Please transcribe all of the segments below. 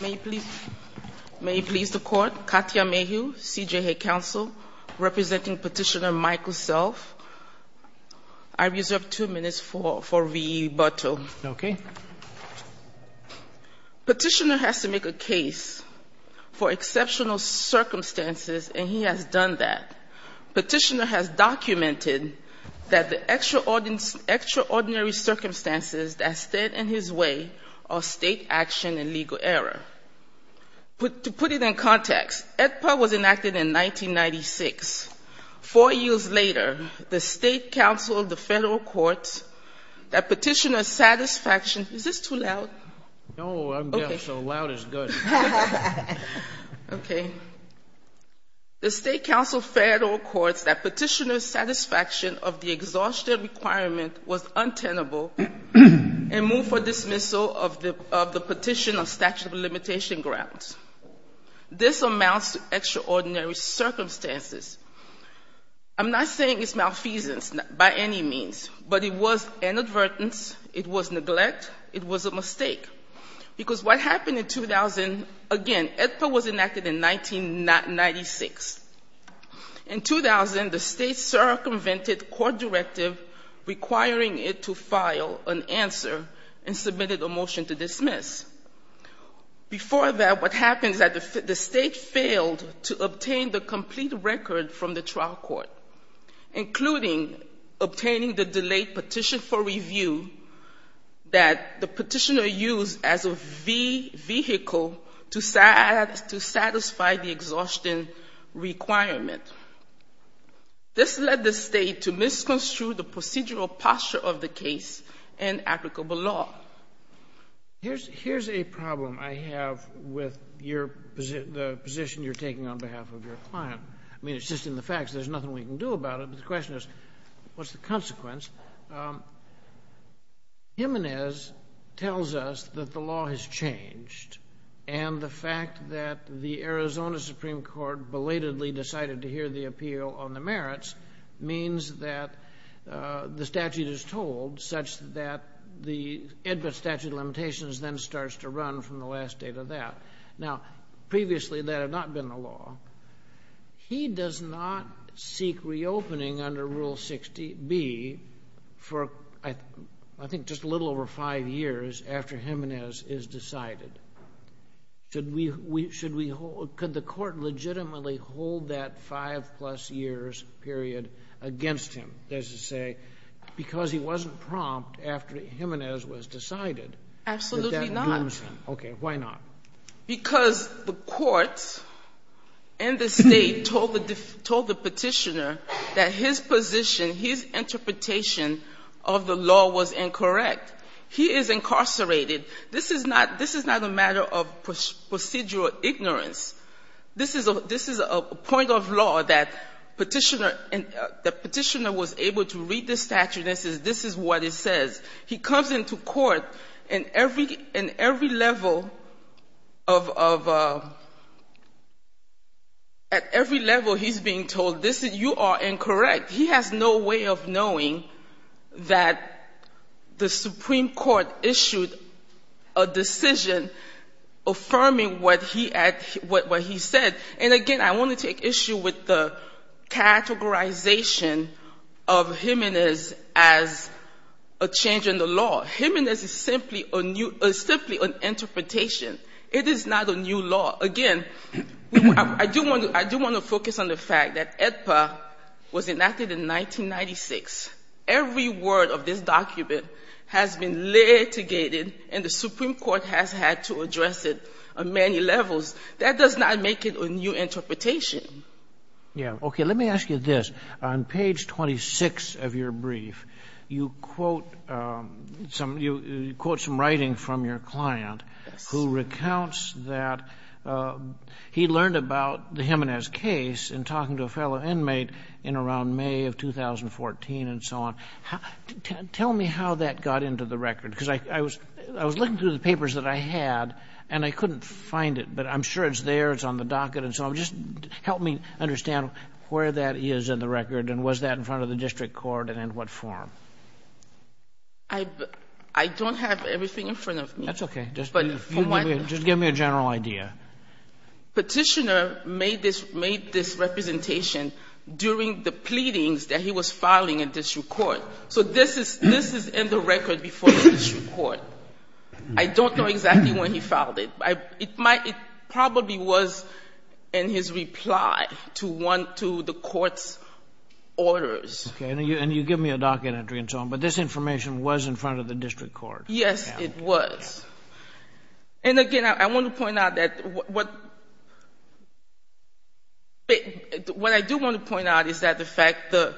May it please the Court, Katya Mayhew, CJA Counsel, representing Petitioner Michael Self. I reserve two minutes for rebuttal. Okay. Petitioner has to make a case for exceptional circumstances, and he has done that. Petitioner has documented that the extraordinary circumstances that stood in his way are state action and legal error. To put it in context, EDPA was enacted in 1996. Four years later, the State Council of the Federal Courts that Petitioner's satisfaction — is this too loud? No, I'm deaf, so loud is good. Okay. Again, the State Council of Federal Courts that Petitioner's satisfaction of the exhaustion requirement was untenable and moved for dismissal of the petition of statute of limitation grounds. This amounts to extraordinary circumstances. I'm not saying it's malfeasance by any means, but it was inadvertence, it was neglect, it was a mistake. Because what happened in 2000 — again, EDPA was enacted in 1996. In 2000, the State circumvented court directive requiring it to file an answer and submitted a motion to dismiss. Before that, what happens is that the State failed to obtain the complete record from the trial court, including obtaining the delayed petition for review that the petitioner used as a vehicle to satisfy the exhaustion requirement. This led the State to misconstrue the procedural posture of the case and applicable law. Here's a problem I have with the position you're taking on behalf of your client. I mean, it's just in the facts, there's nothing we can do about it, but the question is, what's the consequence? Jimenez tells us that the law has changed, and the fact that the Arizona Supreme Court belatedly decided to hear the appeal on the merits means that the statute is told, such that the EDPA statute of limitations then starts to run from the last date of that. Now, previously that had not been the law. He does not seek reopening under Rule 60B for, I think, just a little over five years after Jimenez is decided. Could the court legitimately hold that five-plus years period against him, as you say, because he wasn't prompt after Jimenez was decided? Absolutely not. I understand. Okay. Why not? Because the courts and the State told the Petitioner that his position, his interpretation of the law was incorrect. He is incarcerated. This is not a matter of procedural ignorance. This is a point of law that Petitioner was able to read the statute and say, this is what it says. He comes into court in every level of ‑‑ at every level he's being told, you are incorrect. He has no way of knowing that the Supreme Court issued a decision affirming what he said. And, again, I want to take issue with the categorization of Jimenez as a change in the law. Jimenez is simply an interpretation. It is not a new law. Again, I do want to focus on the fact that AEDPA was enacted in 1996. Every word of this document has been litigated, and the Supreme Court has had to address it on many levels. That does not make it a new interpretation. Okay. Let me ask you this. On page 26 of your brief, you quote some writing from your client who recounts that he learned about the Jimenez case in talking to a fellow inmate in around May of 2014 and so on. Tell me how that got into the record, because I was looking through the papers that I had, and I couldn't find it. But I'm sure it's there. It's on the docket and so on. Just help me understand where that is in the record, and was that in front of the district court, and in what form? I don't have everything in front of me. That's okay. Just give me a general idea. Petitioner made this representation during the pleadings that he was filing in district court. So this is in the record before the district court. I don't know exactly when he filed it. It probably was in his reply to the court's orders. Okay. And you give me a docket entry and so on. But this information was in front of the district court. Yes, it was. And, again, I want to point out that what I do want to point out is that the fact that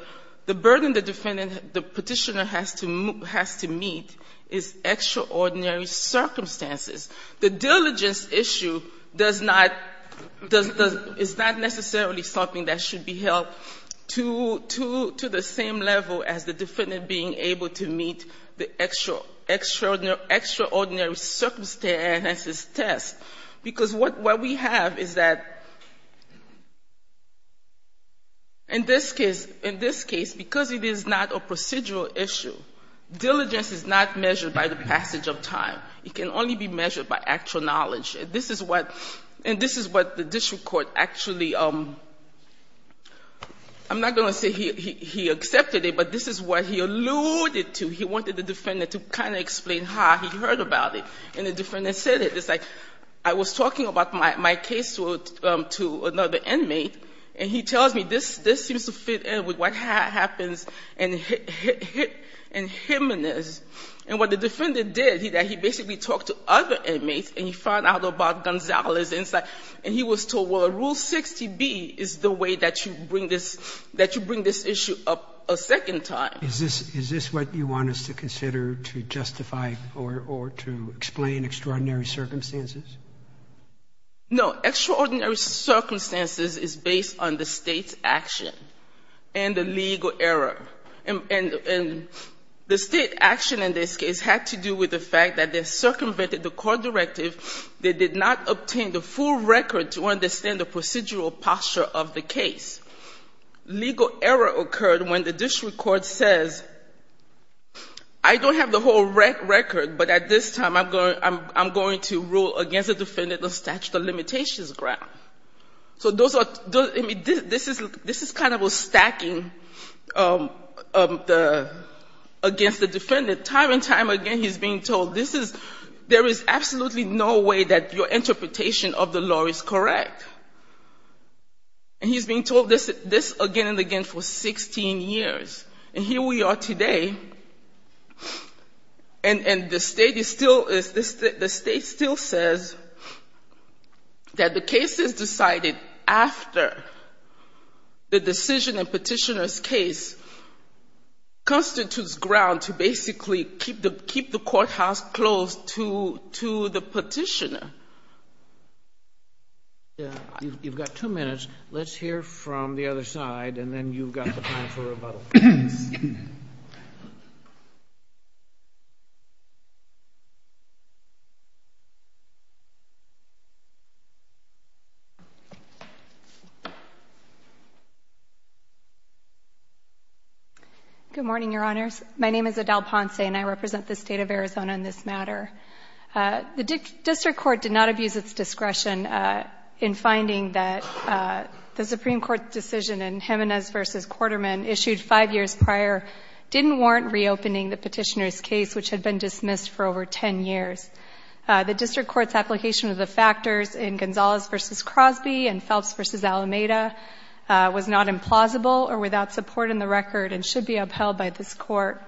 the burden the defendant, the petitioner, has to meet is extraordinary circumstances. The diligence issue does not, is not necessarily something that should be held to the same level as the defendant being able to meet the extraordinary circumstances test, because what we have is that in this case, because it is not a procedural issue, diligence is not measured by the passage of time. It can only be measured by actual knowledge. And this is what the district court actually, I'm not going to say he accepted it, but this is what he alluded to. He wanted the defendant to kind of explain how he heard about it. And the defendant said it. I was talking about my case to another inmate, and he tells me this seems to fit in with what happens in Jimenez. And what the defendant did, he basically talked to other inmates, and he found out about Gonzales' insight. And he was told, well, Rule 60B is the way that you bring this issue up a second time. Is this what you want us to consider to justify or to explain extraordinary circumstances? No. Extraordinary circumstances is based on the State's action and the legal error. And the State action in this case had to do with the fact that they circumvented the court directive. They did not obtain the full record to understand the procedural posture of the case. Legal error occurred when the district court says, I don't have the whole record, but at this time, I'm going to rule against the defendant on statute of limitations ground. So those are, I mean, this is kind of a stacking of the, against the defendant. Time and time again, he's being told, this is, there is absolutely no way that your interpretation of the law is correct. And he's being told this again and again for 16 years. And here we are today, and the State is still, the State still says that the case is decided after the decision and petitioner's case constitutes ground to basically keep the courthouse closed to the petitioner. You've got two minutes. Let's hear from the other side, and then you've got the time for rebuttal. Good morning, Your Honors. My name is Adele Ponce, and I represent the State of Arizona in this matter. The district court did not abuse its discretion in finding that the Supreme Court's decision in Jimenez v. Quarterman issued five years prior didn't warrant reopening the petitioner's case, which had been dismissed for over 10 years. The district court's application of the factors in Gonzalez v. Crosby and Phelps v. Alameda was not implausible or without support in the record and should be upheld by this court.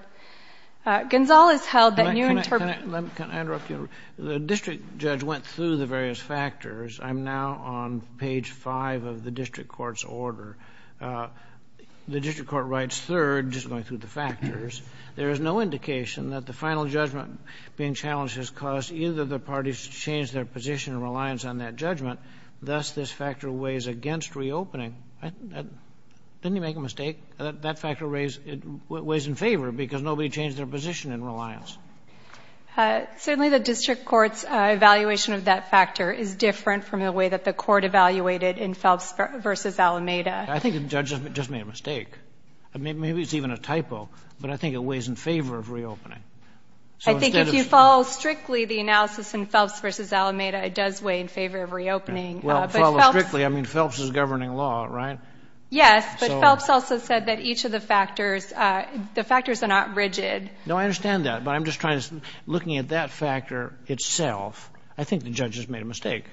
Gonzalez held that new interpretation. Can I interrupt you? The district judge went through the various factors. I'm now on page 5 of the district court's order. The district court writes third, just going through the factors. There is no indication that the final judgment being challenged has caused either of the parties to change their position and reliance on that judgment. Thus, this factor weighs against reopening. Didn't he make a mistake? That factor weighs in favor because nobody changed their position in reliance. Certainly the district court's evaluation of that factor is different from the way that the court evaluated in Phelps v. Alameda. I think the judge just made a mistake. Maybe it's even a typo, but I think it weighs in favor of reopening. I think if you follow strictly the analysis in Phelps v. Alameda, it does weigh in favor of reopening. Well, follow strictly. I mean, Phelps is governing law, right? Yes. But Phelps also said that each of the factors, the factors are not rigid. No, I understand that. But I'm just trying to, looking at that factor itself, I think the judge has made a mistake.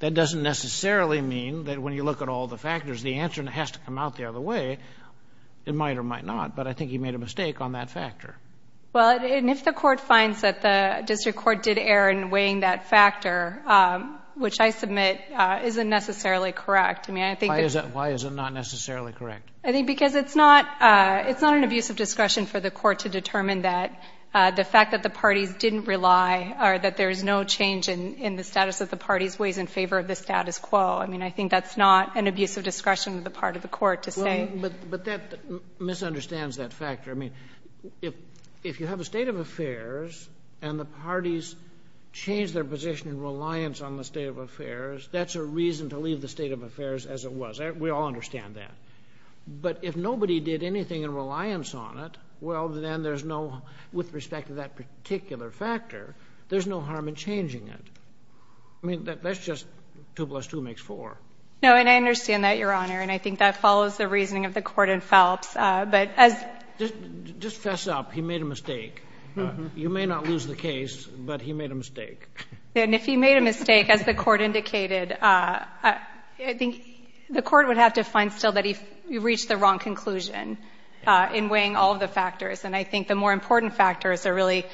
That doesn't necessarily mean that when you look at all the factors, the answer has to come out the other way. It might or might not, but I think he made a mistake on that factor. Well, and if the court finds that the district court did err in weighing that factor, which I submit isn't necessarily correct. Why is it not necessarily correct? I think because it's not an abuse of discretion for the court to determine that the fact that the parties didn't rely or that there is no change in the status of the parties weighs in favor of the status quo. I mean, I think that's not an abuse of discretion on the part of the court to say. But that misunderstands that factor. I mean, if you have a state of affairs and the parties change their position in reliance on the state of affairs, that's a reason to leave the state of affairs as it was. We all understand that. But if nobody did anything in reliance on it, well, then there's no, with respect to that particular factor, there's no harm in changing it. I mean, that's just two plus two makes four. No, and I understand that, Your Honor, and I think that follows the reasoning of the court in Phelps. But as... Just fess up. You may not lose the case, but he made a mistake. And if he made a mistake, as the court indicated, I think the court would have to find still that he reached the wrong conclusion in weighing all of the factors. And I think the more important factors are really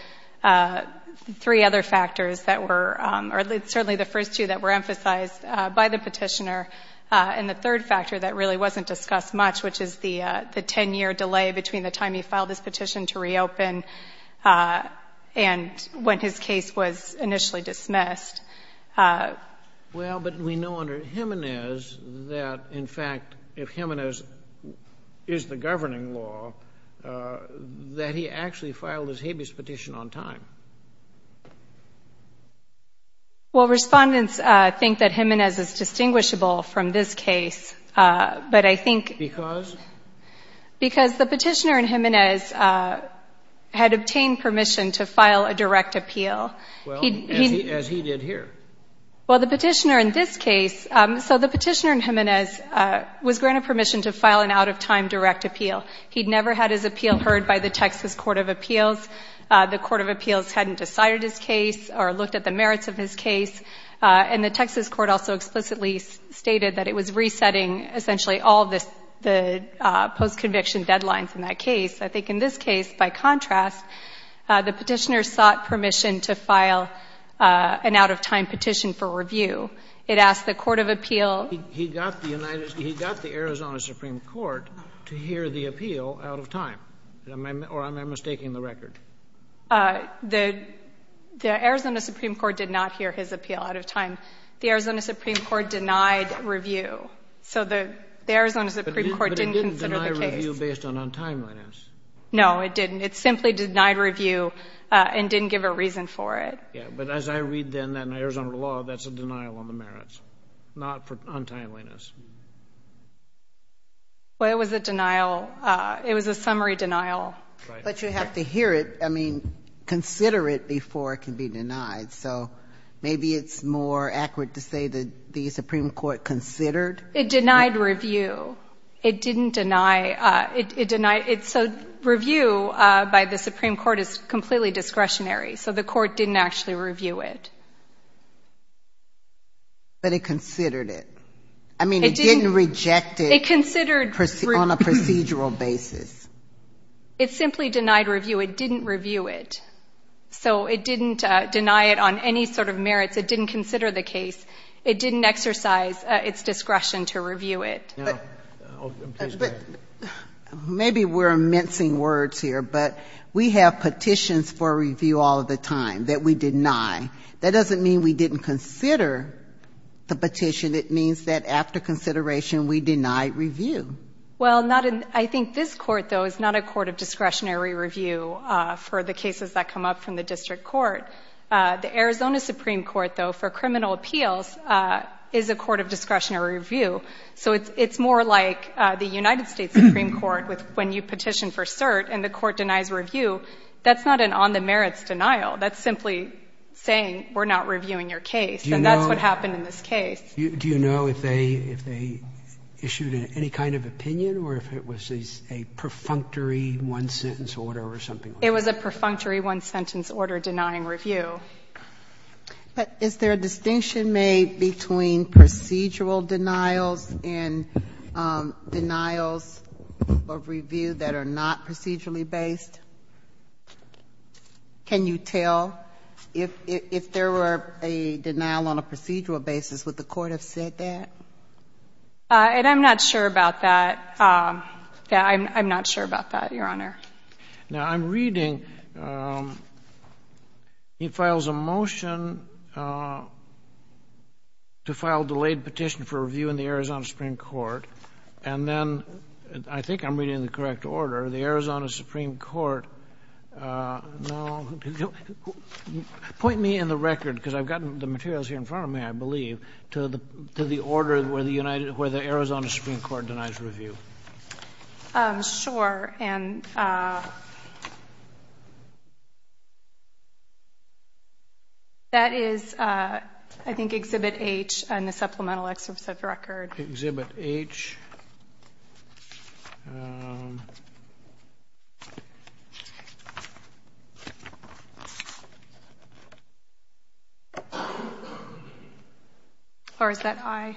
three other factors that were, or certainly the first two that were emphasized by the petitioner, and the third factor that really wasn't discussed much, which is the ten-year delay between the time he filed his petition to reopen and when his case was initially dismissed. Well, but we know under Jimenez that, in fact, if Jimenez is the governing law, that he actually filed his habeas petition on time. Well, respondents think that Jimenez is distinguishable from this case, but I think... Because? Because the petitioner in Jimenez had obtained permission to file a direct appeal. Well, as he did here. Well, the petitioner in this case... So the petitioner in Jimenez was granted permission to file an out-of-time direct appeal. He'd never had his appeal heard by the Texas Court of Appeals. The Court of Appeals hadn't decided his case or looked at the merits of his case, and the Texas Court also explicitly stated that it was resetting, essentially, all the post-conviction deadlines in that case. I think in this case, by contrast, the petitioner sought permission to file an out-of-time petition for review. It asked the Court of Appeals... He got the Arizona Supreme Court to hear the appeal out of time, or am I mistaking the record? The Arizona Supreme Court did not hear his appeal out of time. The Arizona Supreme Court denied review. So the Arizona Supreme Court didn't consider the case. But it didn't deny review based on untimeliness. No, it didn't. It simply denied review and didn't give a reason for it. Yeah, but as I read then, in Arizona law, that's a denial on the merits, not untimeliness. Well, it was a denial. It was a summary denial. But you have to hear it, I mean, consider it before it can be denied. So maybe it's more accurate to say that the Supreme Court considered... It denied review. It didn't deny... So review by the Supreme Court is completely discretionary. So the Court didn't actually review it. But it considered it. I mean, it didn't reject it. It considered... On a procedural basis. It simply denied review. It didn't review it. So it didn't deny it on any sort of merits. It didn't consider the case. It didn't exercise its discretion to review it. But maybe we're mincing words here, but we have petitions for review all the time that we deny. That doesn't mean we didn't consider the petition. It means that after consideration we deny review. Well, not in... I think this Court, though, is not a court of discretionary review for the cases that come up from the district court. The Arizona Supreme Court, though, for criminal appeals is a court of discretionary review. So it's more like the United States Supreme Court when you petition for cert and the court denies review. That's not an on-the-merits denial. That's simply saying we're not reviewing your case. And that's what happened in this case. Do you know if they issued any kind of opinion or if it was a perfunctory one-sentence order or something like that? It was a perfunctory one-sentence order denying review. But is there a distinction made between procedural denials and denials of review that are not procedurally based? Can you tell? If there were a denial on a procedural basis, would the Court have said that? And I'm not sure about that. Yeah, I'm not sure about that, Your Honor. Now, I'm reading it files a motion to file a delayed petition for review in the Arizona Supreme Court. And then I think I'm reading it in the correct order. The Arizona Supreme Court, no. Point me in the record, because I've got the materials here in front of me, I believe, to the order where the Arizona Supreme Court denies review. Sure. And that is, I think, Exhibit H in the supplemental excerpt of the record. Exhibit H. Or is that I?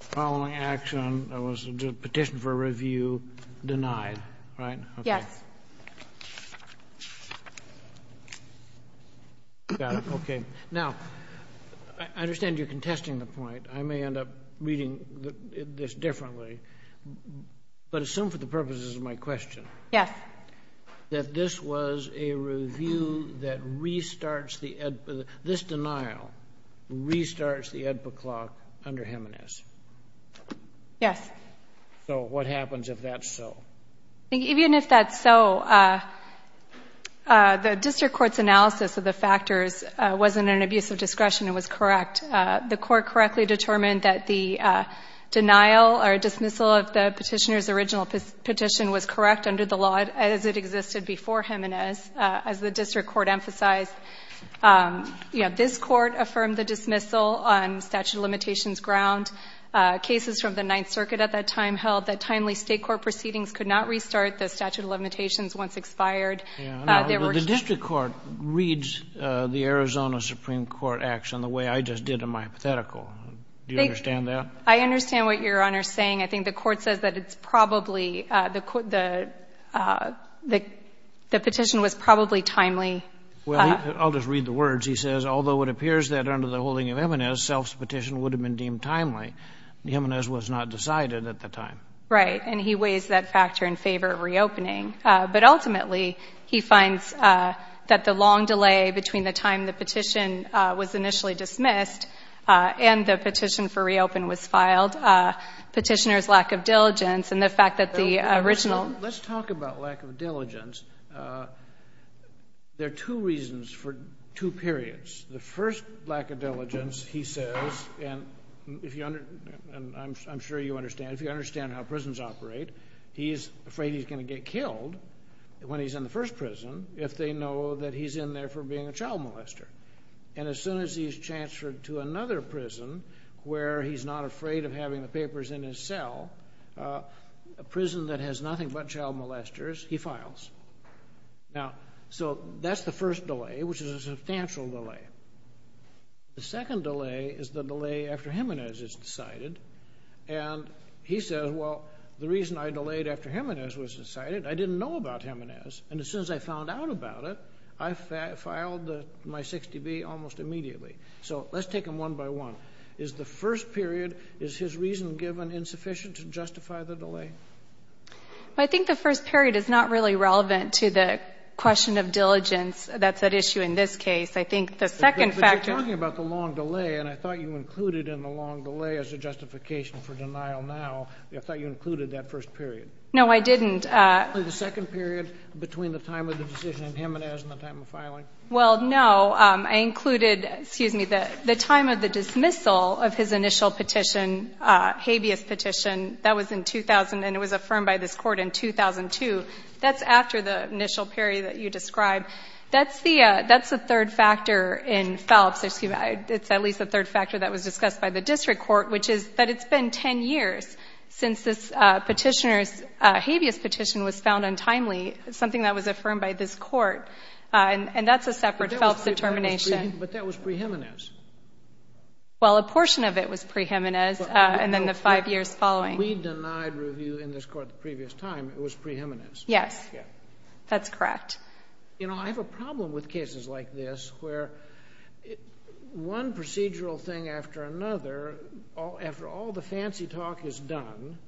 Following action, there was a petition for review denied, right? Yes. Got it. Okay. Now, I understand you're contesting the point. I may end up reading this differently. But assume for the purposes of my question. Yes. That this was a review that restarts the, this denial restarts the EDPA clock under Jimenez. Yes. So what happens if that's so? Even if that's so, the district court's analysis of the factors wasn't an abuse of discretion. It was correct. The court correctly determined that the denial or dismissal of the petitioner's original petition was correct under the law as it existed before Jimenez, as the district court emphasized. This court affirmed the dismissal on statute of limitations ground. Cases from the Ninth Circuit at that time held that timely state court proceedings could not restart the statute of limitations once expired. The district court reads the Arizona Supreme Court acts in the way I just did in my hypothetical. Do you understand that? I understand what Your Honor is saying. I think the court says that it's probably, the petition was probably timely. Well, I'll just read the words. He says, although it appears that under the holding of Jimenez, self's petition would have been deemed timely, Jimenez was not decided at the time. Right. And he weighs that factor in favor of reopening. But ultimately, he finds that the long delay between the time the petition was initially dismissed and the petition for reopen was filed, petitioner's lack of diligence and the fact that the original. Let's talk about lack of diligence. There are two reasons for two periods. The first lack of diligence, he says, and I'm sure you understand. If you understand how prisons operate, he's afraid he's going to get killed when he's in the first prison if they know that he's in there for being a child molester. And as soon as he's transferred to another prison where he's not afraid of having the papers in his cell, a prison that has nothing but child molesters, he files. Now, so that's the first delay, which is a substantial delay. The second delay is the delay after Jimenez is decided. And he says, well, the reason I delayed after Jimenez was decided, I didn't know about Jimenez. And as soon as I found out about it, I filed my 60B almost immediately. So let's take them one by one. Is the first period, is his reason given insufficient to justify the delay? Well, I think the first period is not really relevant to the question of diligence that's at issue in this case. I think the second factor. But you're talking about the long delay, and I thought you included in the long delay as a justification for denial now. I thought you included that first period. No, I didn't. The second period between the time of the decision in Jimenez and the time of filing. Well, no, I included, excuse me, the time of the dismissal of his initial petition, habeas petition. That was in 2000, and it was affirmed by this court in 2002. That's after the initial period that you described. That's the third factor in Phelps. It's at least the third factor that was discussed by the district court, which is that it's been 10 years since this petitioner's habeas petition was found untimely, something that was affirmed by this court. And that's a separate Phelps determination. But that was pre-Jimenez. Well, a portion of it was pre-Jimenez, and then the five years following. We denied review in this court the previous time. It was pre-Jimenez. Yes. That's correct. You know, I have a problem with cases like this where one procedural thing after another, after all the fancy talk is done,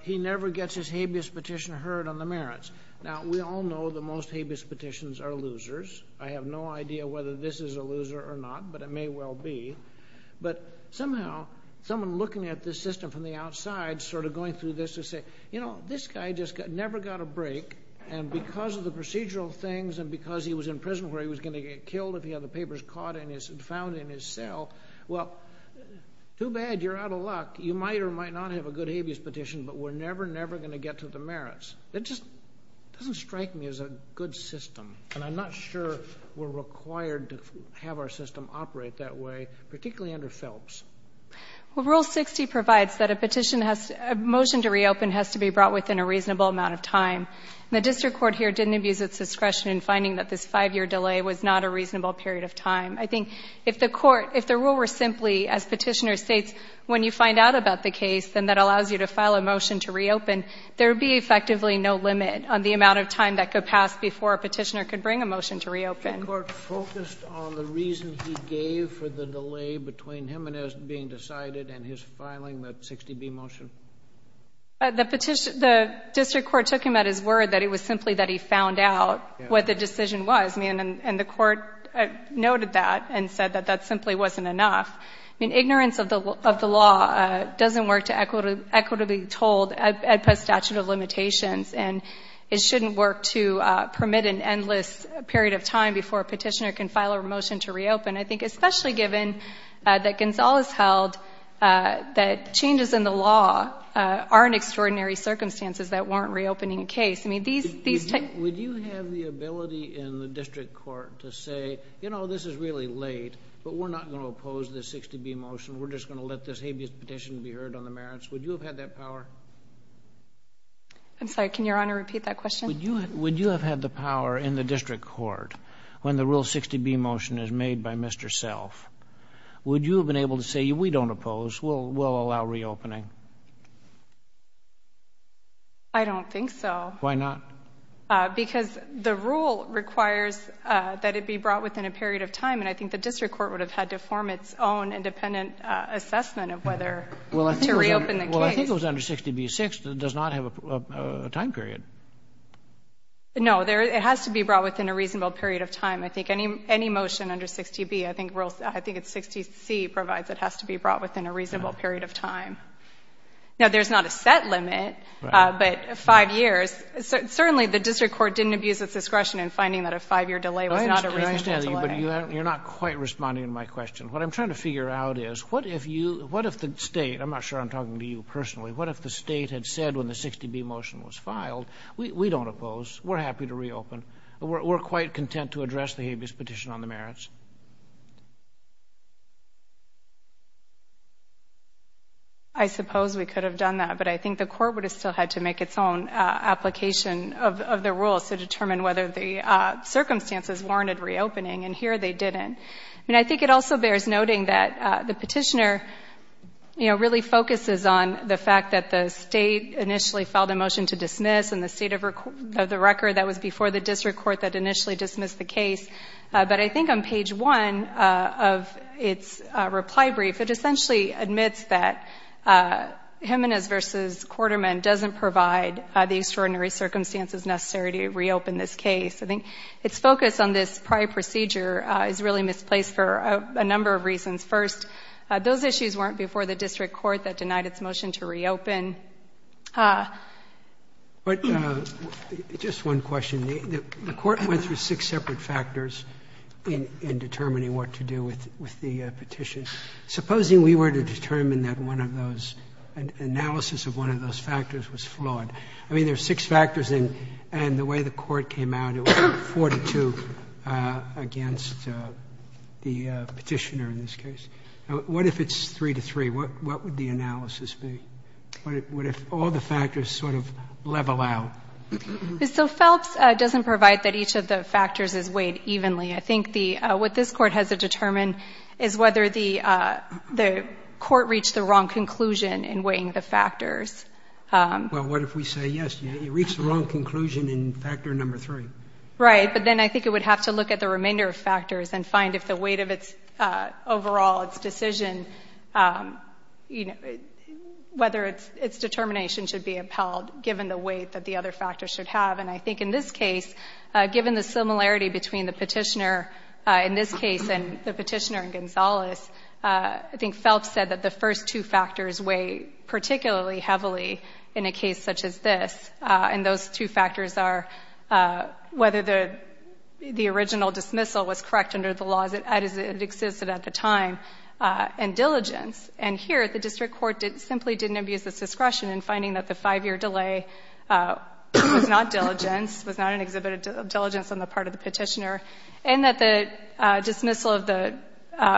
he never gets his habeas petition heard on the merits. Now, we all know the most habeas petitions are losers. I have no idea whether this is a loser or not, but it may well be. But somehow someone looking at this system from the outside sort of going through this would say, you know, this guy just never got a break, and because of the procedural things and because he was in prison where he was going to get killed if he had the papers caught and found in his cell, well, too bad. You're out of luck. You might or might not have a good habeas petition, but we're never, never going to get to the merits. It just doesn't strike me as a good system, and I'm not sure we're required to have our system operate that way, particularly under Phelps. Well, Rule 60 provides that a petition has to be brought within a reasonable amount of time. The district court here didn't abuse its discretion in finding that this five-year delay was not a reasonable period of time. I think if the court, if the rule were simply, as Petitioner states, when you find out about the case, then that allows you to file a motion to reopen, there would be effectively no limit on the amount of time that could pass before a petitioner could bring a motion to reopen. The court focused on the reason he gave for the delay between him and his being decided and his filing that 60B motion? The district court took him at his word that it was simply that he found out what the decision was, and the court noted that and said that that simply wasn't enough. I mean, ignorance of the law doesn't work to equitably be told by statute of limitations, and it shouldn't work to permit an endless period of time before a petitioner can file a motion to reopen. I think especially given that Gonzales held that changes in the law are in extraordinary circumstances that warrant reopening a case. I mean, these types of things. Would you have the ability in the district court to say, you know, this is really late, but we're not going to oppose this 60B motion, we're just going to let this habeas petition be heard on the merits? Would you have had that power? I'm sorry, can Your Honor repeat that question? Would you have had the power in the district court when the Rule 60B motion is made by Mr. Self? Would you have been able to say, we don't oppose, we'll allow reopening? I don't think so. Why not? Because the rule requires that it be brought within a period of time, and I think the district court would have had to form its own independent assessment of whether to reopen the case. Well, I think it was under 60B-6 that does not have a time period. No, it has to be brought within a reasonable period of time. I think any motion under 60B, I think Rule 60C provides it has to be brought within a reasonable period of time. Now, there's not a set limit, but five years. Certainly the district court didn't abuse its discretion in finding that a five-year delay was not a reasonable delay. But you're not quite responding to my question. What I'm trying to figure out is what if you, what if the state, I'm not sure I'm talking to you personally, what if the state had said when the 60B motion was filed, we don't oppose, we're happy to reopen, we're quite content to address the habeas petition on the merits? I suppose we could have done that, but I think the court would have still had to make its own application of the rules to determine whether the circumstances warranted reopening, and here they didn't. And I think it also bears noting that the petitioner, you know, really focuses on the fact that the state initially filed a motion to dismiss, and the state of the record that was before the district court that initially dismissed the case. But I think on page one of its reply brief, it essentially admits that Jimenez v. Quarterman doesn't provide the extraordinary circumstances necessary to reopen this case. I think its focus on this prior procedure is really misplaced for a number of reasons. First, those issues weren't before the district court that denied its motion to reopen. But just one question. The court went through six separate factors in determining what to do with the petition. Supposing we were to determine that one of those, an analysis of one of those factors was flawed. I mean, there are six factors, and the way the court came out, it was 4 to 2 against the petitioner in this case. Now, what if it's 3 to 3? What would the analysis be? What if all the factors sort of level out? So Phelps doesn't provide that each of the factors is weighed evenly. I think what this Court has to determine is whether the court reached the wrong conclusion in weighing the factors. Well, what if we say, yes, you reached the wrong conclusion in factor number 3? Right. But then I think it would have to look at the remainder of factors and find if the weight of its overall decision, whether its determination should be upheld, given the weight that the other factors should have. And I think in this case, given the similarity between the petitioner in this case and the petitioner in Gonzales, I think Phelps said that the first two factors weigh particularly heavily in a case such as this, and those two factors are whether the original dismissal was correct under the laws as it existed at the time, and diligence. And here, the District Court simply didn't abuse its discretion in finding that the five-year delay was not diligence, was not an exhibit of diligence on the part of the petitioner, and that the dismissal of the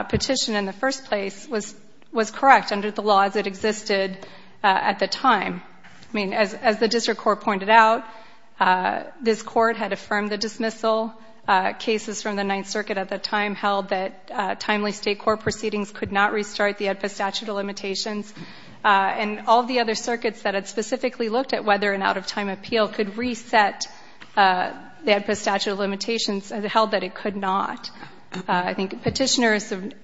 petition in the first place was correct under the law as it existed at the time. I mean, as the District Court pointed out, this Court had affirmed the dismissal. Cases from the Ninth Circuit at the time held that timely state court proceedings could not restart the AEDPA statute of limitations. And all the other circuits that had specifically looked at whether an out-of-time appeal could reset the AEDPA statute of limitations held that it could not. I think the petitioner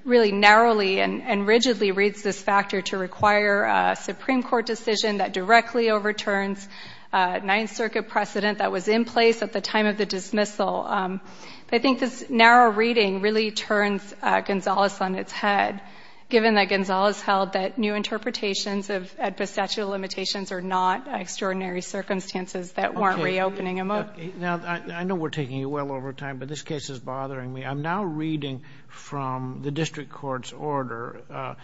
really narrowly and rigidly reads this factor to require a Supreme Court decision that directly overturns a Ninth Circuit precedent that was in place at the time of the dismissal. But I think this narrow reading really turns Gonzales on its head, given that Gonzales held that new interpretations of AEDPA statute of limitations are not extraordinary circumstances that weren't reopening them up. Now, I know we're taking you well over time, but this case is bothering me. I'm now reading from the District Court's order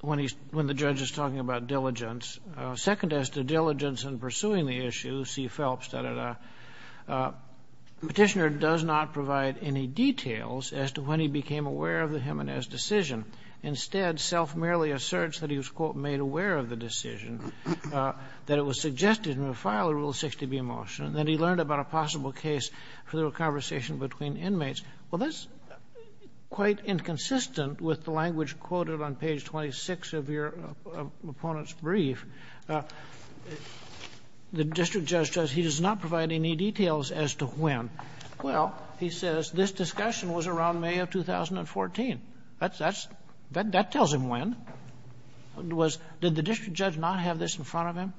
when the judge is talking about diligence. Second, as to diligence in pursuing the issue, C. Phelps, da-da-da, the petitioner does not provide any details as to when he became aware of the Jimenez decision. Instead, Self merely asserts that he was, quote, made aware of the decision, that it was suggested he would file a Rule 60b motion, and that he learned about a possible case for the conversation between inmates. Well, that's quite inconsistent with the language quoted on page 26 of your opponent's brief. The district judge says he does not provide any details as to when. Well, he says this discussion was around May of 2014. That's — that tells him when. Was — did the district judge not have this in front of him?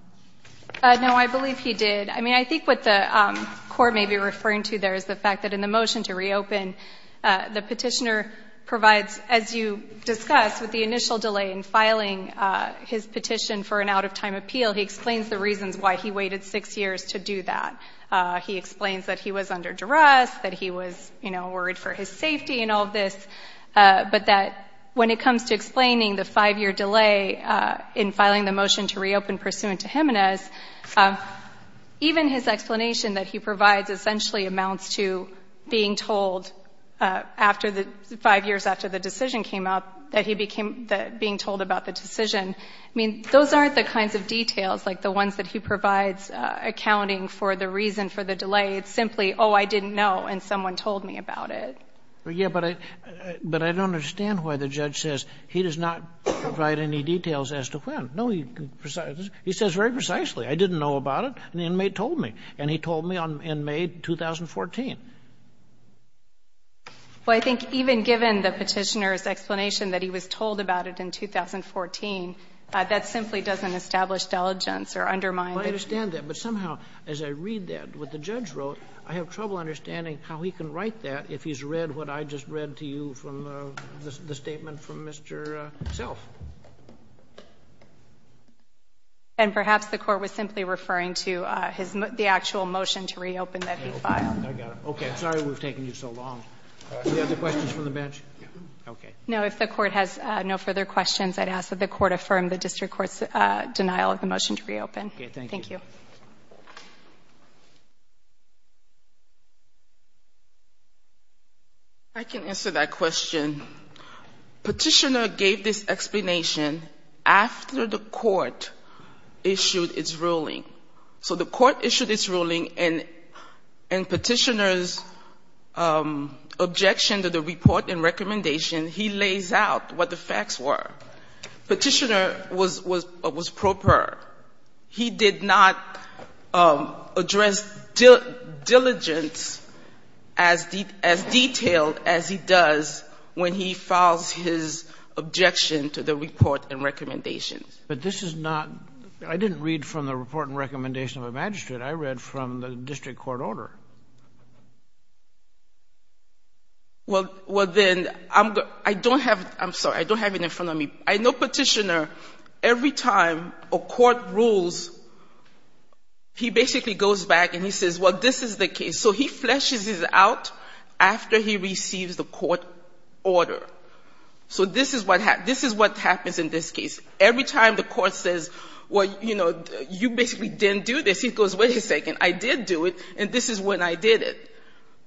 No, I believe he did. I mean, I think what the court may be referring to there is the fact that in the motion to reopen, the petitioner provides, as you discussed, with the initial delay in filing his petition for an out-of-time appeal, he explains the reasons why he waited six years to do that. He explains that he was under duress, that he was, you know, worried for his safety and all of this, but that when it comes to explaining the five-year delay in filing the motion to reopen pursuant to Jimenez, even his explanation that he provides essentially amounts to being told after the — five years after the decision came out that he became — being told about the decision. I mean, those aren't the kinds of details, like the ones that he provides accounting for the reason for the delay. It's simply, oh, I didn't know, and someone told me about it. Yeah, but I don't understand why the judge says he does not provide any details as to when. No, he says very precisely, I didn't know about it, and the inmate told me. And he told me in May 2014. Well, I think even given the petitioner's explanation that he was told about it in 2014, that simply doesn't establish diligence or undermine the — Well, I understand that. But somehow, as I read that, what the judge wrote, I have trouble understanding how he can write that if he's read what I just read to you from the statement from Mr. Self. And perhaps the court was simply referring to his — the actual motion to reopen that he filed. I got it. Okay. Sorry we've taken you so long. Any other questions from the bench? No. Okay. No, if the court has no further questions, I'd ask that the court affirm the district court's denial of the motion to reopen. Okay. Thank you. Thank you. I can answer that question. Petitioner gave this explanation after the court issued its ruling. So the court issued its ruling, and petitioner's objection to the report and recommendation, he lays out what the facts were. Petitioner was proper. He did not address diligence as detailed as he does when he files his objection to the report and recommendations. But this is not — I didn't read from the report and recommendation of a magistrate. I read from the district court order. Well, then, I don't have — I'm sorry. I don't have it in front of me. I know petitioner, every time a court rules, he basically goes back and he says, well, this is the case. So he fleshes it out after he receives the court order. So this is what happens in this case. Every time the court says, well, you know, you basically didn't do this, he goes, wait a second. I did do it, and this is when I did it.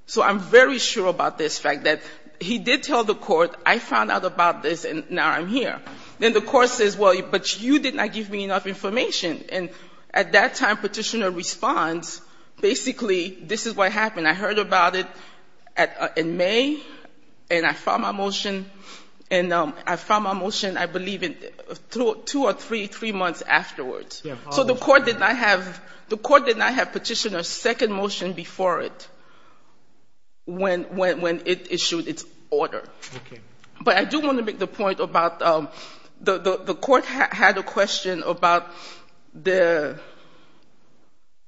So I'm very sure about this fact that he did tell the court, I found out about this, and now I'm here. Then the court says, well, but you did not give me enough information. And at that time, petitioner responds, basically, this is what happened. I heard about it in May, and I filed my motion, and I filed my motion, I believe, in two or three months afterwards. So the court did not have — the court did not have petitioner's second motion before it when it issued its order. But I do want to make the point about the court had a question about the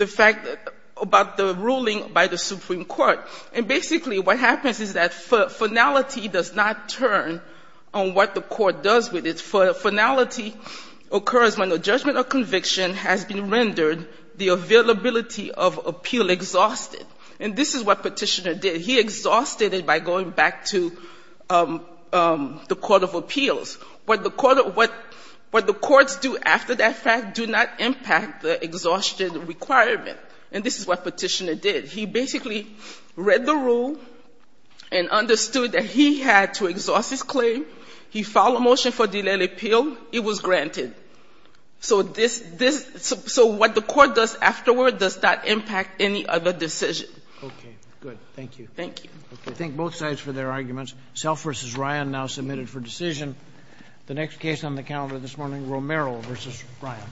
fact that — about the ruling by the Supreme Court. And basically what happens is that finality does not turn on what the court does with it. Finality occurs when the judgment of conviction has been rendered, the availability of appeal exhausted. And this is what petitioner did. He exhausted it by going back to the court of appeals. What the courts do after that fact do not impact the exhaustion requirement. And this is what petitioner did. He basically read the rule and understood that he had to exhaust his claim. He filed a motion for delayed appeal. It was granted. So this — so what the court does afterward does not impact any other decision. Okay. Good. Thank you. Thank you. Okay. Thank both sides for their arguments. Self v. Ryan now submitted for decision. The next case on the calendar this morning, Romero v. Ryan.